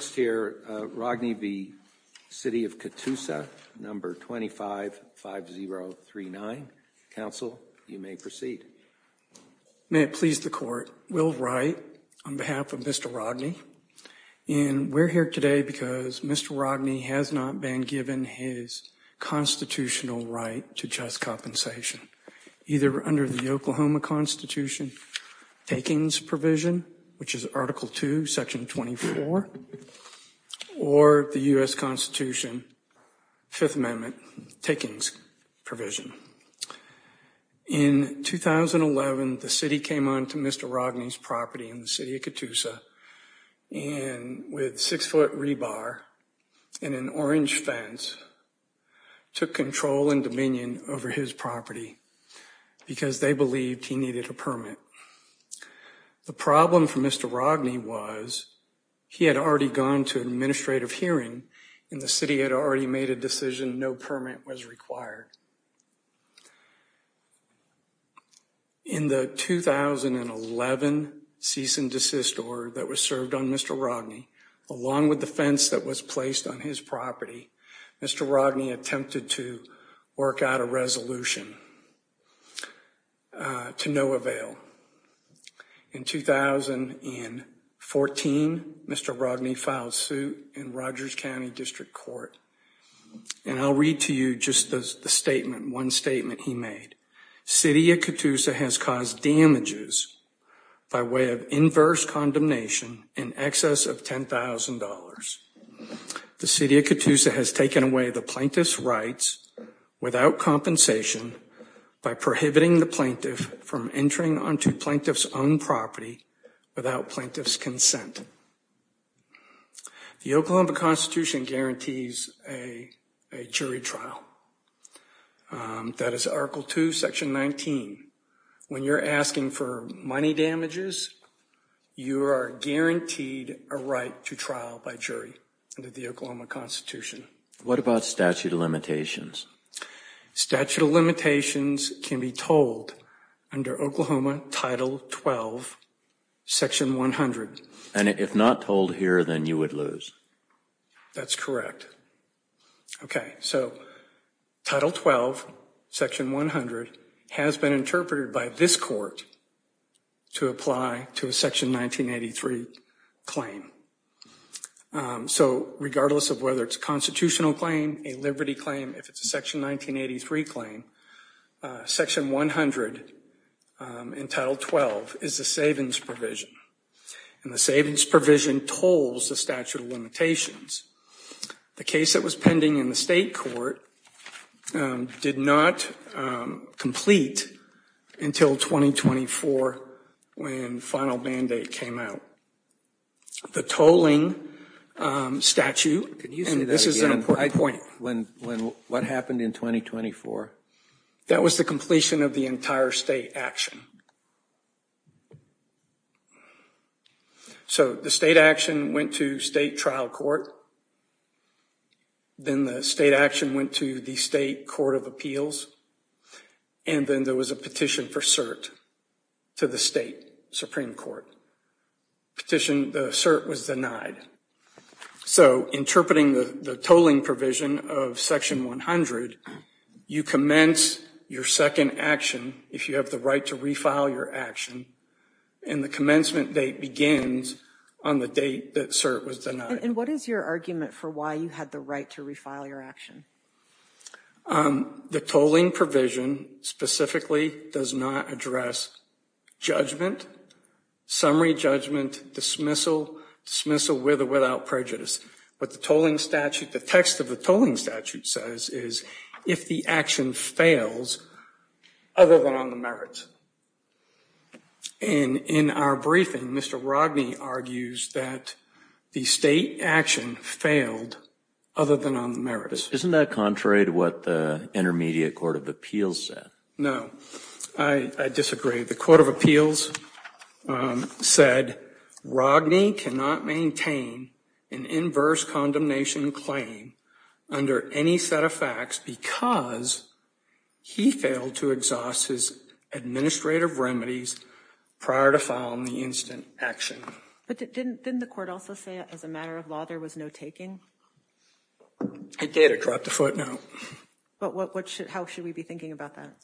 25-5039. Council, you may proceed. May it please the court, Will Wright on behalf of Mr. Rodney. And we're here today because Mr. Rodney has not been given his constitutional right to just compensation, either under the Oklahoma Constitution takings provision, which is Article 2, Section 24, or the U.S. Constitution Fifth Amendment takings provision. In 2011, the city came on to Mr. Rodney's property in the city of Catoosa and with six foot rebar and an orange fence, took control and dominion over his property because they believed he needed a permit. The problem for Mr. Rodney was he had already gone to administrative hearing and the city had already made a decision no permit was required. In the 2011 cease and desist order that was served on Mr. Rodney, along with the fence that was placed on his property, Mr. Rodney attempted to work out a resolution to no avail. In 2014, Mr. Rodney filed suit in Rogers County District Court. And I'll read to you just the statement, one statement he made. City of Catoosa has caused damages by way of inverse condemnation in excess of $10,000. The city of Catoosa has taken away the plaintiff's rights without compensation by prohibiting the plaintiff from entering onto plaintiff's own property without plaintiff's consent. The Oklahoma Constitution guarantees a jury trial. That is Article 2, Section 19. When you're asking for money damages, you are guaranteed a right to trial by jury under the Oklahoma Constitution. What about statute of limitations? Statute of limitations can be told under Oklahoma Title 12, Section 100. And if not told here, then you would lose. That's correct. Okay, so Title 12, Section 100 has been interpreted by this court to apply to a Section 1983 claim. So regardless of whether it's a constitutional claim, a liberty claim, if it's a Section 1983 claim, Section 100 in Title 12 is a savings provision. And the savings provision tolls the statute of limitations. The case that was pending in the state court did not complete until 2024 when final mandate came out. The tolling statute, and this is an important point. What happened in 2024? That was the completion of the entire state action. So the state action went to state trial court. Then the state action went to the state court of appeals. And then there was a petition for cert to the state Supreme Court. The cert was denied. So interpreting the tolling provision of Section 100, you commence your second action if you have the right to refile your action. And the commencement date begins on the date that cert was denied. And what is your argument for why you had the right to refile your action? The tolling provision specifically does not address judgment, summary judgment, dismissal, dismissal with or without prejudice. What the tolling statute, the text of the tolling statute says is if the action fails other than on the merits. And in our briefing, Mr. Rodney argues that the state action failed other than on the merits. Isn't that contrary to what the intermediate court of appeals said? No. I disagree. The court of appeals said Rodney cannot maintain an inverse condemnation claim under any set of facts because he failed to exhaust his administrative remedies prior to filing the instant action. But didn't the court also say as a matter of law there was no taking? It did. It dropped a footnote. But how should we be thinking about that?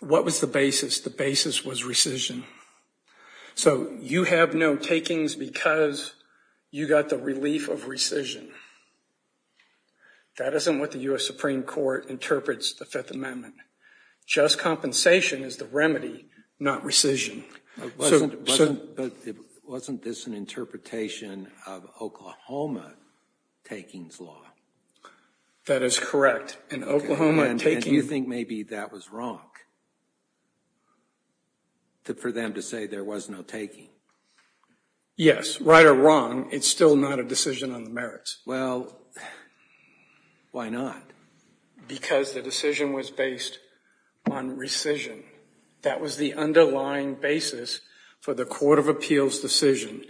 What was the basis? The basis was rescission. So you have no takings because you got the relief of rescission. That isn't what the U.S. Supreme Court interprets the Fifth Amendment. Just compensation is the remedy, not rescission. But wasn't this an interpretation of Oklahoma takings law? That is correct. In Oklahoma takings. And you think maybe that was wrong for them to say there was no taking? Yes. Right or wrong, it's still not a decision on the merits. Well, why not? Because the decision was based on rescission. That was the underlying basis for the court of appeals decision.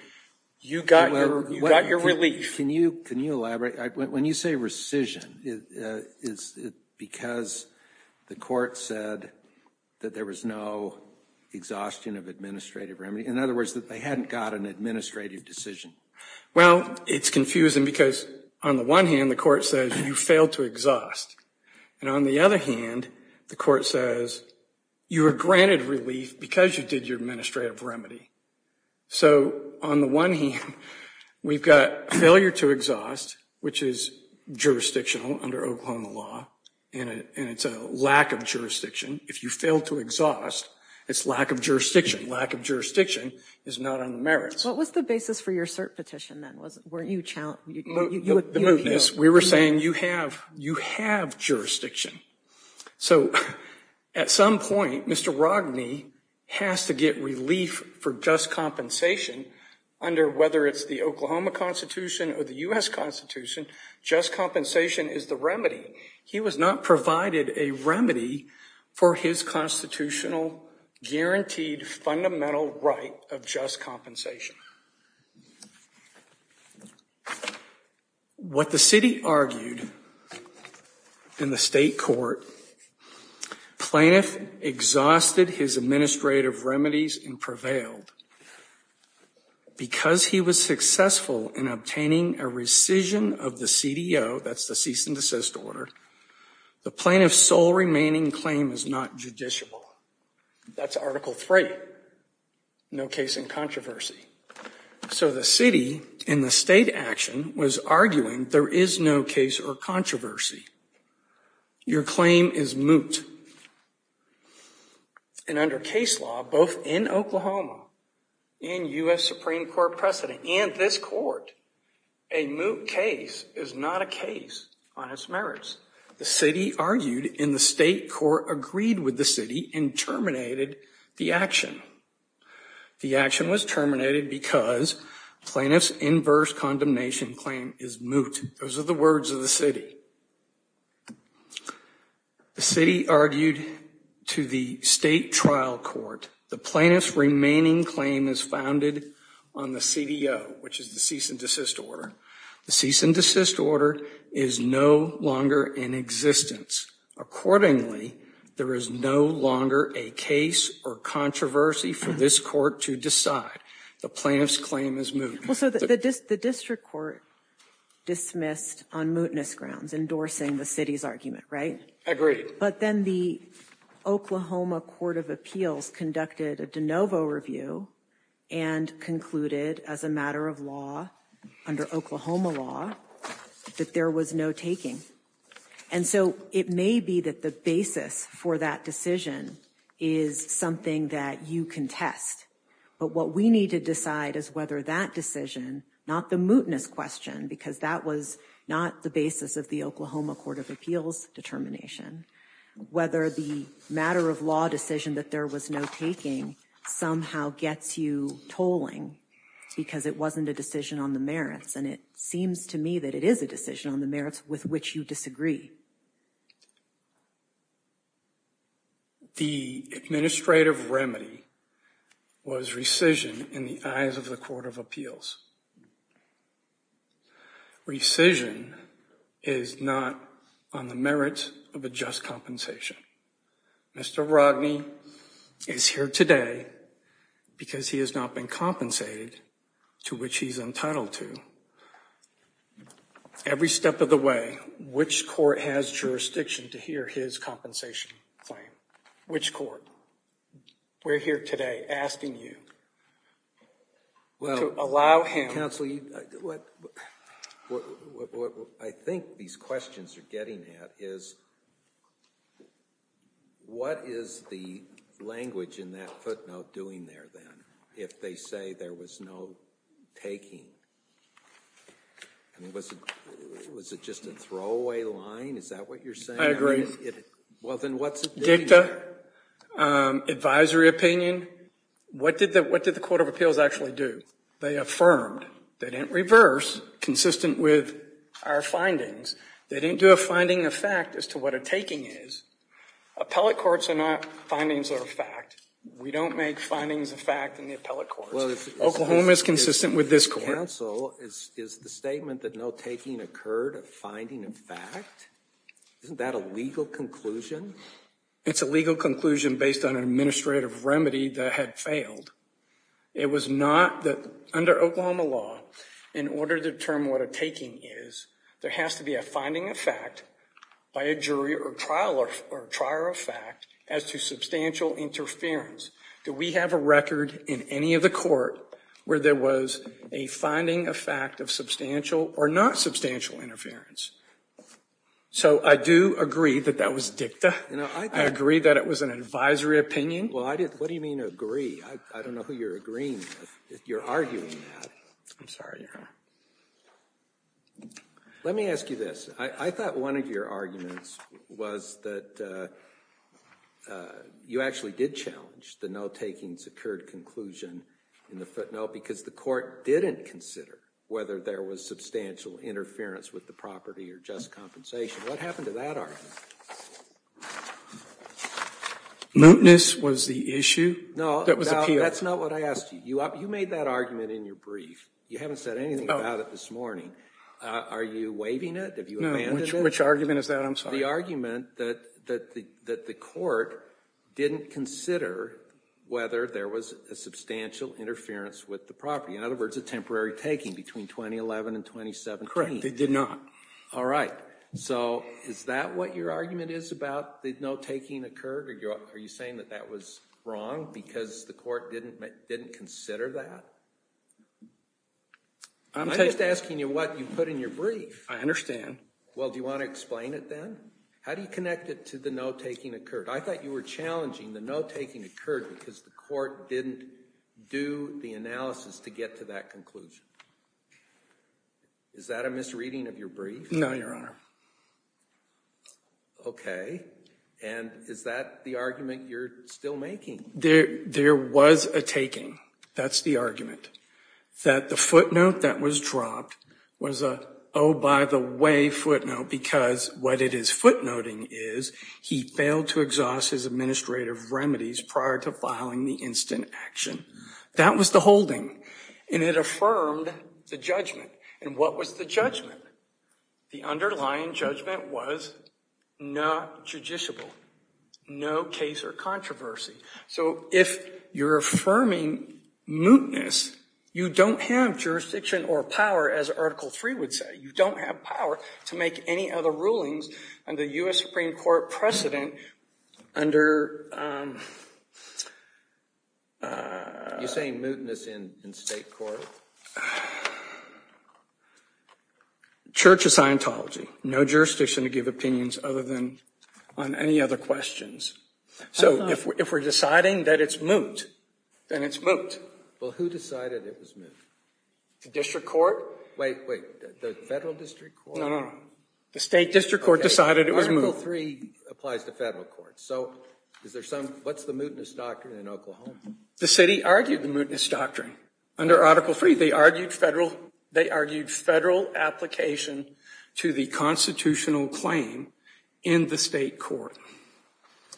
You got your relief. Can you elaborate? When you say rescission, is it because the court said that there was no exhaustion of administrative remedy? In other words, that they hadn't got an administrative decision? Well, it's confusing because, on the one hand, the court says you failed to exhaust. And on the other hand, the court says you were granted relief because you did your administrative remedy. So, on the one hand, we've got failure to exhaust, which is jurisdictional under Oklahoma law, and it's a lack of jurisdiction. If you fail to exhaust, it's lack of jurisdiction. Lack of jurisdiction is not on the merits. What was the basis for your cert petition then? The mootness. We were saying you have jurisdiction. So, at some point, Mr. Rogney has to get relief for just compensation under, whether it's the Oklahoma Constitution or the U.S. Constitution, just compensation is the remedy. He was not provided a remedy for his constitutional, guaranteed, fundamental right of just compensation. What the city argued in the state court, plaintiff exhausted his administrative remedies and prevailed. Because he was successful in obtaining a rescission of the CDO, that's the cease and desist order, the plaintiff's sole remaining claim is not No case in controversy. So, the city in the state action was arguing there is no case or controversy. Your claim is moot. And under case law, both in Oklahoma and U.S. Supreme Court precedent, and this court, a moot case is not a case on its merits. The city argued in the state court agreed with the city and terminated the action. The action was terminated because plaintiff's inverse condemnation claim is moot. Those are the words of the city. The city argued to the state trial court the plaintiff's remaining claim is founded on the CDO, which is the cease and desist order. The cease and desist order is no longer in existence. Accordingly, there is no longer a case or controversy for this court to decide. The plaintiff's claim is moot. Well, so the district court dismissed on mootness grounds, endorsing the city's argument, right? Agreed. But then the Oklahoma Court of Appeals conducted a de novo review and concluded as a matter of law, under Oklahoma law, that there was no taking. And so it may be that the basis for that decision is something that you can test. But what we need to decide is whether that decision, not the mootness question, because that was not the basis of the Oklahoma Court of Appeals determination, whether the matter of law decision that there was no taking somehow gets you tolling, because it wasn't a decision on the merits. And it seems to me that it is a decision on the merits with which you disagree. The administrative remedy was rescission in the eyes of the Court of Appeals. Rescission is not on the merits of a just compensation. Mr. Rodney is here today because he has not been compensated to which he is entitled to. Every step of the way, which court has jurisdiction to hear his compensation claim? Which court? We're here today asking you to allow him. Counsel, what I think these questions are getting at is what is the language in that footnote doing there then if they say there was no taking? Was it just a throwaway line? Is that what you're saying? I agree. Dicta? Advisory opinion? What did the Court of Appeals actually do? They affirmed. They didn't reverse, consistent with our findings. They didn't do a finding of fact as to what a taking is. Appellate courts are not findings of fact. We don't make findings of fact in the appellate courts. Oklahoma is consistent with this court. Counsel, is the statement that no taking occurred a finding of fact? Isn't that a legal conclusion? It's a legal conclusion based on an administrative remedy that had failed. It was not that under Oklahoma law, in order to determine what a taking is, there has to be a finding of fact by a jury or trial or trier of fact as to substantial interference. Do we have a record in any of the court where there was a finding of fact of substantial or not substantial interference? So I do agree that that was dicta. I agree that it was an advisory opinion. Well, what do you mean agree? I don't know who you're agreeing with. You're arguing that. I'm sorry. Let me ask you this. I thought one of your arguments was that you actually did challenge the no taking secured conclusion in the footnote because the court didn't consider whether there was substantial interference with the property or just compensation. What happened to that argument? Mootness was the issue. No, that's not what I asked you. You made that argument in your brief. You haven't said anything about it this morning. Are you waiving it? No. Which argument is that? I'm sorry. The argument that the court didn't consider whether there was a substantial interference with the property. In other words, a temporary taking between 2011 and 2017. They did not. All right. So is that what your argument is about that no taking occurred? Are you saying that that was wrong because the court didn't consider that? I'm just asking you what you put in your brief. I understand. Well, do you want to explain it then? How do you connect it to the no taking occurred? I thought you were challenging the no taking occurred because the court didn't do the analysis to get to that conclusion. Is that a misreading of your brief? No, Your Honor. Okay. And is that the argument you're still making? There was a taking. That's the argument. That the footnote that was dropped was a, oh, by the way, footnote because what it is footnoting is he failed to exhaust his administrative remedies prior to filing the instant action. That was the holding. And it affirmed the judgment. And what was the judgment? The underlying judgment was not judiciable. No case or controversy. So if you're affirming mootness, you don't have jurisdiction or power, as Article 3 would say. You don't have power to make any other rulings under U.S. Supreme Court precedent under. You're saying mootness in state court? Church of Scientology. No jurisdiction to give opinions other than on any other questions. So if we're deciding that it's moot, then it's moot. Well, who decided it was moot? The district court? Wait, wait. The federal district court? No, no, no. The state district court decided it was moot. Article 3 applies to federal courts. So is there some, what's the mootness doctrine in Oklahoma? The city argued the mootness doctrine. Under Article 3, they argued federal application to the constitutional claim in the state court.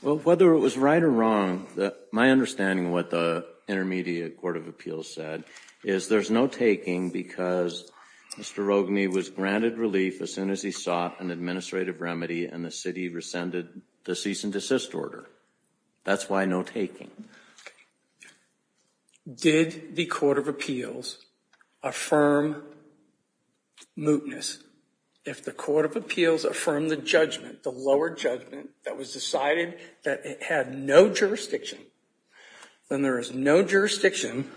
Well, whether it was right or wrong, my understanding of what the Intermediate Court of Appeals said, is there's no taking because Mr. Rogney was granted relief as soon as he sought an administrative remedy and the city rescinded the cease and desist order. That's why no taking. Did the Court of Appeals affirm mootness? If the Court of Appeals affirmed the judgment, the lower judgment, that was decided that it had no jurisdiction, then there is no jurisdiction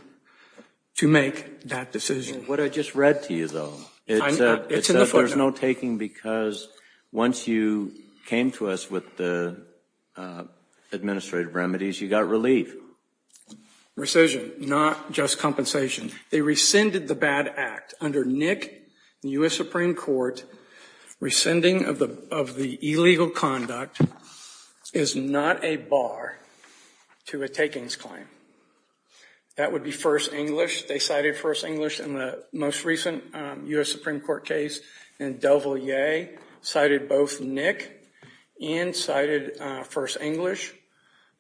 to make that decision. What I just read to you, though, it says there's no taking because once you came to us with the administrative remedies, you got relief. Rescission, not just compensation. They rescinded the bad act. Under Nick, the U.S. Supreme Court, rescinding of the illegal conduct is not a bar to a takings claim. That would be first English. They cited first English in the most recent U.S. Supreme Court case. And Del Valle cited both Nick and cited first English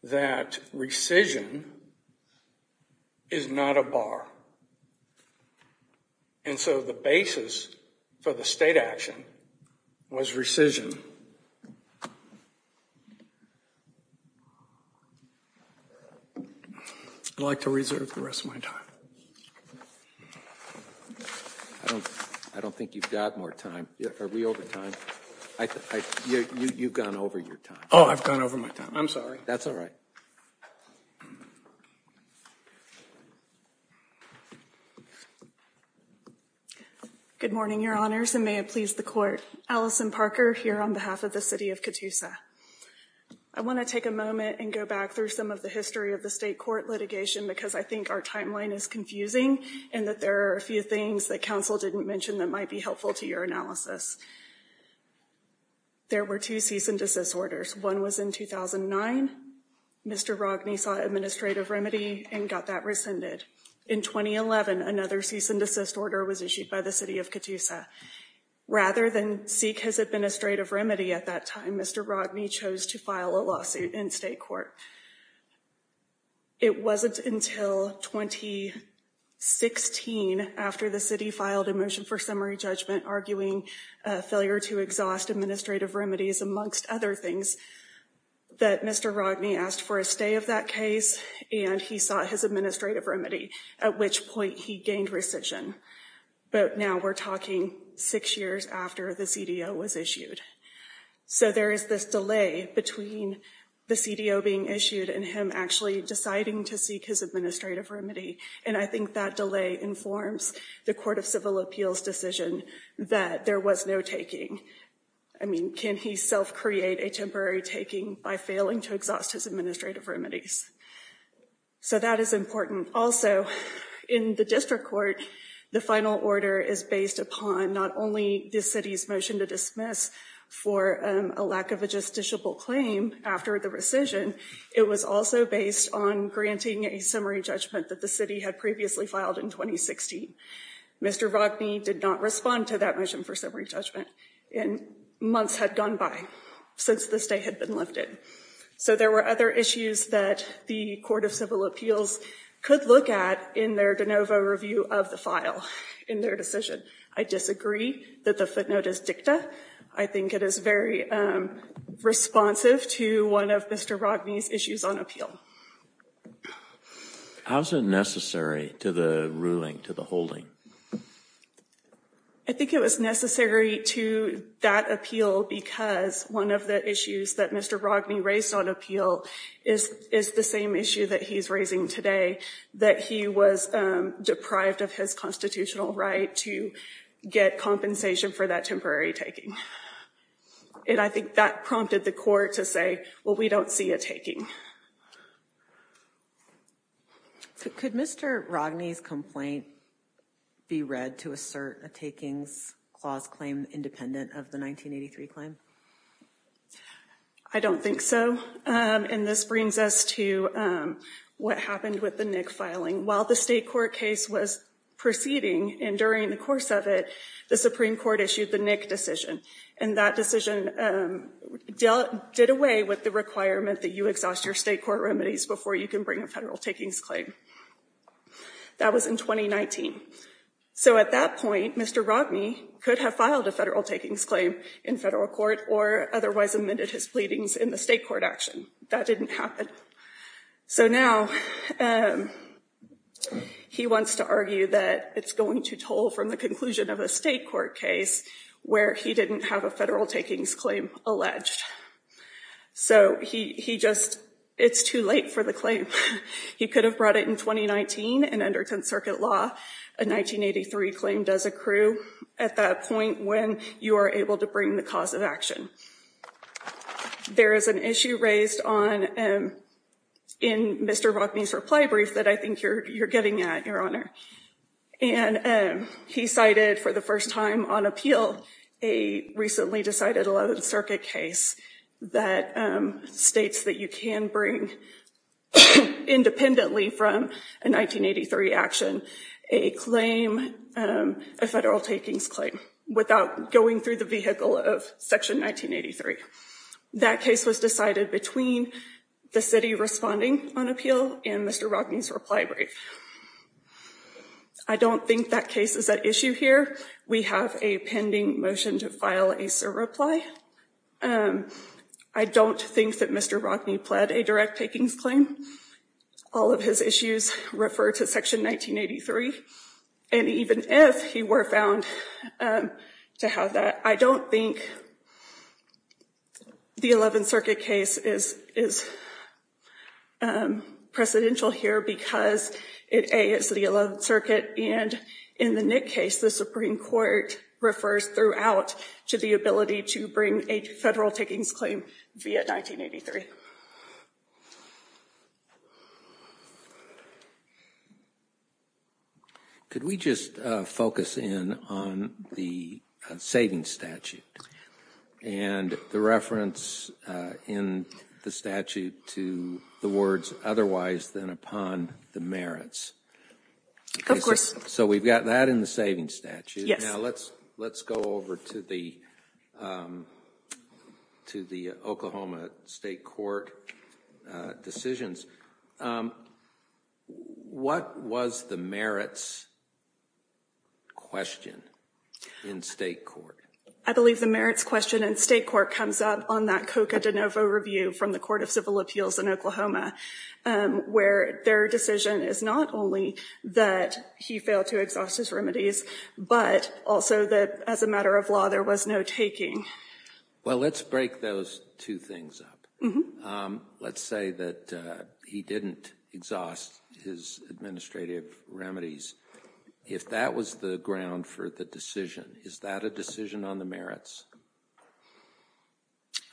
that rescission is not a bar. And so the basis for the state action was rescission. I'd like to reserve the rest of my time. I don't think you've got more time. Are we over time? You've gone over your time. Oh, I've gone over my time. I'm sorry. That's all right. Good morning, Your Honors, and may it please the Court. Allison Parker here on behalf of the city of Catoosa. I want to take a moment and go back through some of the history of the state court litigation because I think our timeline is confusing and that there are a few things that counsel didn't mention that might be helpful to your analysis. There were two cease and desist orders. One was in 2009. Mr. Rogni sought administrative remedy and got that rescinded. In 2011, another cease and desist order was issued by the city of Catoosa. Rather than seek his administrative remedy at that time, Mr. Rogni chose to file a lawsuit in state court. It wasn't until 2016, after the city filed a motion for summary judgment arguing failure to exhaust administrative remedies, amongst other things, that Mr. Rogni asked for a stay of that case, and he sought his administrative remedy, at which point he gained rescission. But now we're talking six years after the CDO was issued. So there is this delay between the CDO being issued and him actually deciding to seek his administrative remedy, and I think that delay informs the Court of Civil Appeals decision that there was no taking. I mean, can he self-create a temporary taking by failing to exhaust his administrative remedies? So that is important. Also, in the district court, the final order is based upon not only the city's motion to dismiss for a lack of a justiciable claim after the rescission, it was also based on granting a summary judgment that the city had previously filed in 2016. Mr. Rogni did not respond to that motion for summary judgment, and months had gone by since the stay had been lifted. So there were other issues that the Court of Civil Appeals could look at in their de novo review of the file in their decision. I disagree that the footnote is dicta. I think it is very responsive to one of Mr. Rogni's issues on appeal. How is it necessary to the ruling, to the holding? I think it was necessary to that appeal because one of the issues that Mr. Rogni raised on appeal is the same issue that he is raising today, that he was deprived of his constitutional right to get compensation for that temporary taking. And I think that prompted the court to say, well, we don't see a taking. Could Mr. Rogni's complaint be read to assert a takings clause claim independent of the 1983 claim? I don't think so. And this brings us to what happened with the Nick filing. While the state court case was proceeding and during the course of it, the Supreme Court issued the Nick decision. And that decision did away with the requirement that you exhaust your state court remedies before you can bring a federal takings claim. That was in 2019. So at that point, Mr. Rogni could have filed a federal takings claim in federal court or otherwise amended his pleadings in the state court action. That didn't happen. So now he wants to argue that it's going to toll from the conclusion of a state court case where he didn't have a federal takings claim alleged. So he just, it's too late for the claim. He could have brought it in 2019. And under 10th Circuit law, a 1983 claim does accrue at that point when you are able to bring the cause of action. There is an issue raised in Mr. Rogni's reply brief that I think you're getting at, Your Honor. And he cited for the first time on appeal, a recently decided 11th Circuit case that states that you can bring independently from a 1983 action, a claim, a federal takings claim without going through the vehicle of Section 1983. That case was decided between the city responding on appeal and Mr. Rogni's reply brief. I don't think that case is at issue here. We have a pending motion to file a SIR reply. I don't think that Mr. Rogni pled a direct takings claim. All of his issues refer to Section 1983. And even if he were found to have that, I don't think the 11th Circuit case is precedential here because it is the 11th Circuit. And in the Nick case, the Supreme Court refers throughout to the ability to bring a federal takings claim via 1983. Could we just focus in on the savings statute and the reference in the statute to the words otherwise than upon the merits? So we've got that in the savings statute. Yes. Now let's go over to the Oklahoma State Court decisions. What was the merits question in state court? I believe the merits question in state court comes up on that Coca De Novo review from the Court of Civil Appeals in Oklahoma, where their decision is not only that he failed to exhaust his remedies, but also that as a matter of law, there was no taking. Well, let's break those two things up. Let's say that he didn't exhaust his administrative remedies. If that was the ground for the decision, is that a decision on the merits?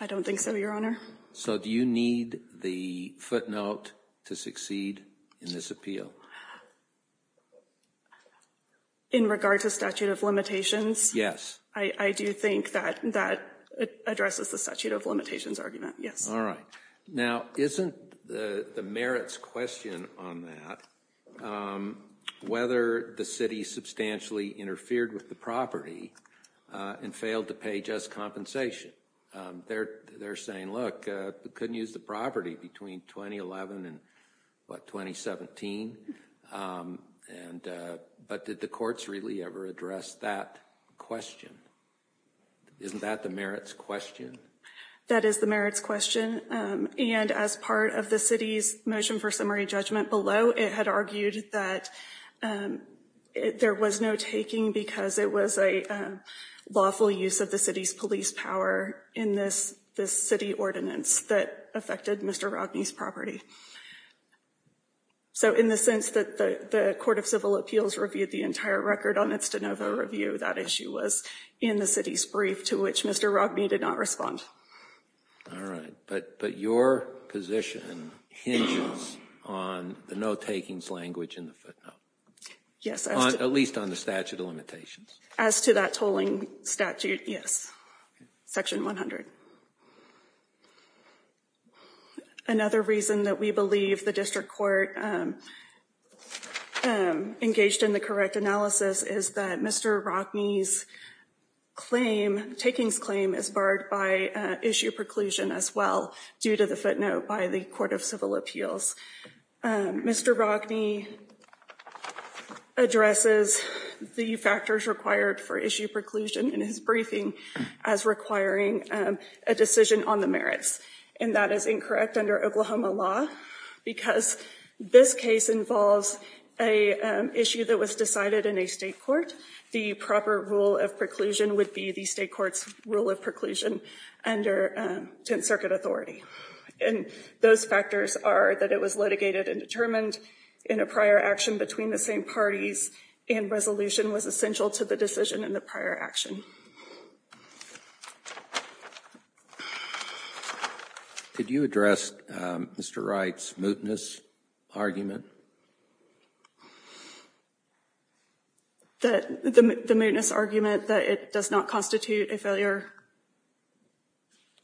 I don't think so, Your Honor. So do you need the footnote to succeed in this appeal? In regard to statute of limitations? Yes. I do think that that addresses the statute of limitations argument. All right. Now, isn't the merits question on that whether the city substantially interfered with the property and failed to pay just compensation? They're saying, look, we couldn't use the property between 2011 and 2017. But did the courts really ever address that question? Isn't that the merits question? That is the merits question. And as part of the city's motion for summary judgment below, it had argued that there was no taking because it was a lawful use of the city's police power in this city ordinance that affected Mr. Rogney's property. So in the sense that the Court of Civil Appeals reviewed the entire record on its de novo review, that issue was in the city's brief to which Mr. Rogney did not respond. All right. But your position hinges on the no takings language in the footnote. Yes. At least on the statute of limitations. As to that tolling statute, yes. Section 100. Another reason that we believe the district court engaged in the correct analysis is that Mr. Rogney's claim, takings claim, is barred by issue preclusion as well due to the footnote by the Court of Civil Appeals. Mr. Rogney addresses the factors required for issue preclusion in his briefing as requiring a decision on the merits. And that is incorrect under Oklahoma law because this case involves an issue that was decided in a state court. The proper rule of preclusion would be the state court's rule of preclusion under Tent Circuit authority. And those factors are that it was litigated and determined in a prior action between the same parties and resolution was essential to the decision in the prior action. Did you address Mr. Wright's mootness argument? The mootness argument that it does not constitute a failure?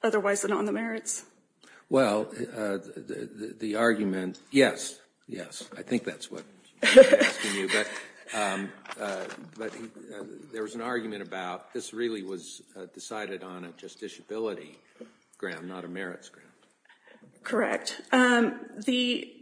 Otherwise than on the merits? Well, the argument, yes, yes. I think that's what he was asking you. But there was an argument about this really was decided on a justiciability ground, not a merits ground. Correct. The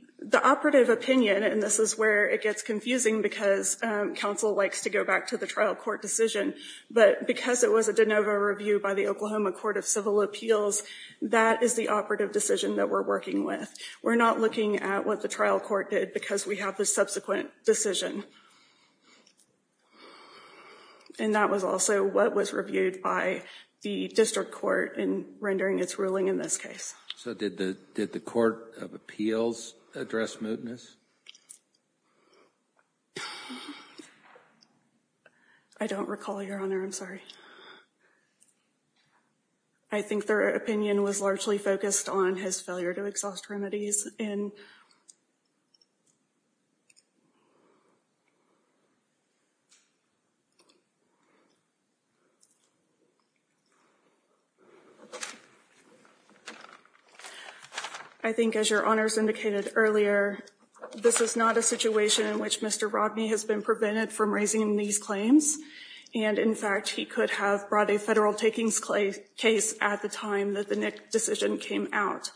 operative opinion, and this is where it gets confusing because counsel likes to go back to the trial court decision, but because it was a de novo review by the Oklahoma Court of Civil Appeals, that is the operative decision that we're working with. We're not looking at what the trial court did because we have the subsequent decision. And that was also what was reviewed by the district court in rendering its ruling in this case. So did the Court of Appeals address mootness? I don't recall, Your Honor. I'm sorry. I think their opinion was largely focused on his failure to exhaust remedies. I think, as Your Honors indicated earlier, this is not a situation in which Mr. Rodney has been prevented from raising these claims. And, in fact, he could have brought a federal takings case at the time that the NIC decision came out.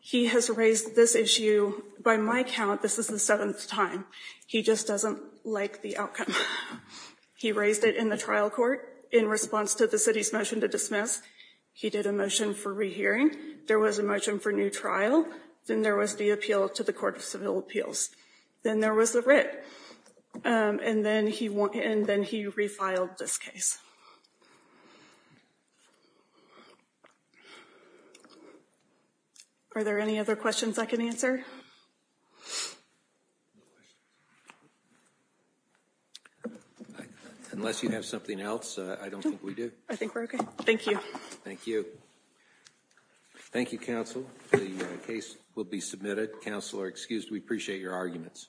He has raised this issue, by my count, this is the seventh time. He just doesn't like the outcome. He raised it in the trial court in response to the city's motion to dismiss. He did a motion for rehearing. There was a motion for new trial. Then there was the appeal to the Court of Civil Appeals. Then there was the writ. And then he refiled this case. Are there any other questions I can answer? Unless you have something else, I don't think we do. I think we're okay. Thank you. Thank you. Thank you, counsel. The case will be submitted. Counsel are excused. We appreciate your arguments.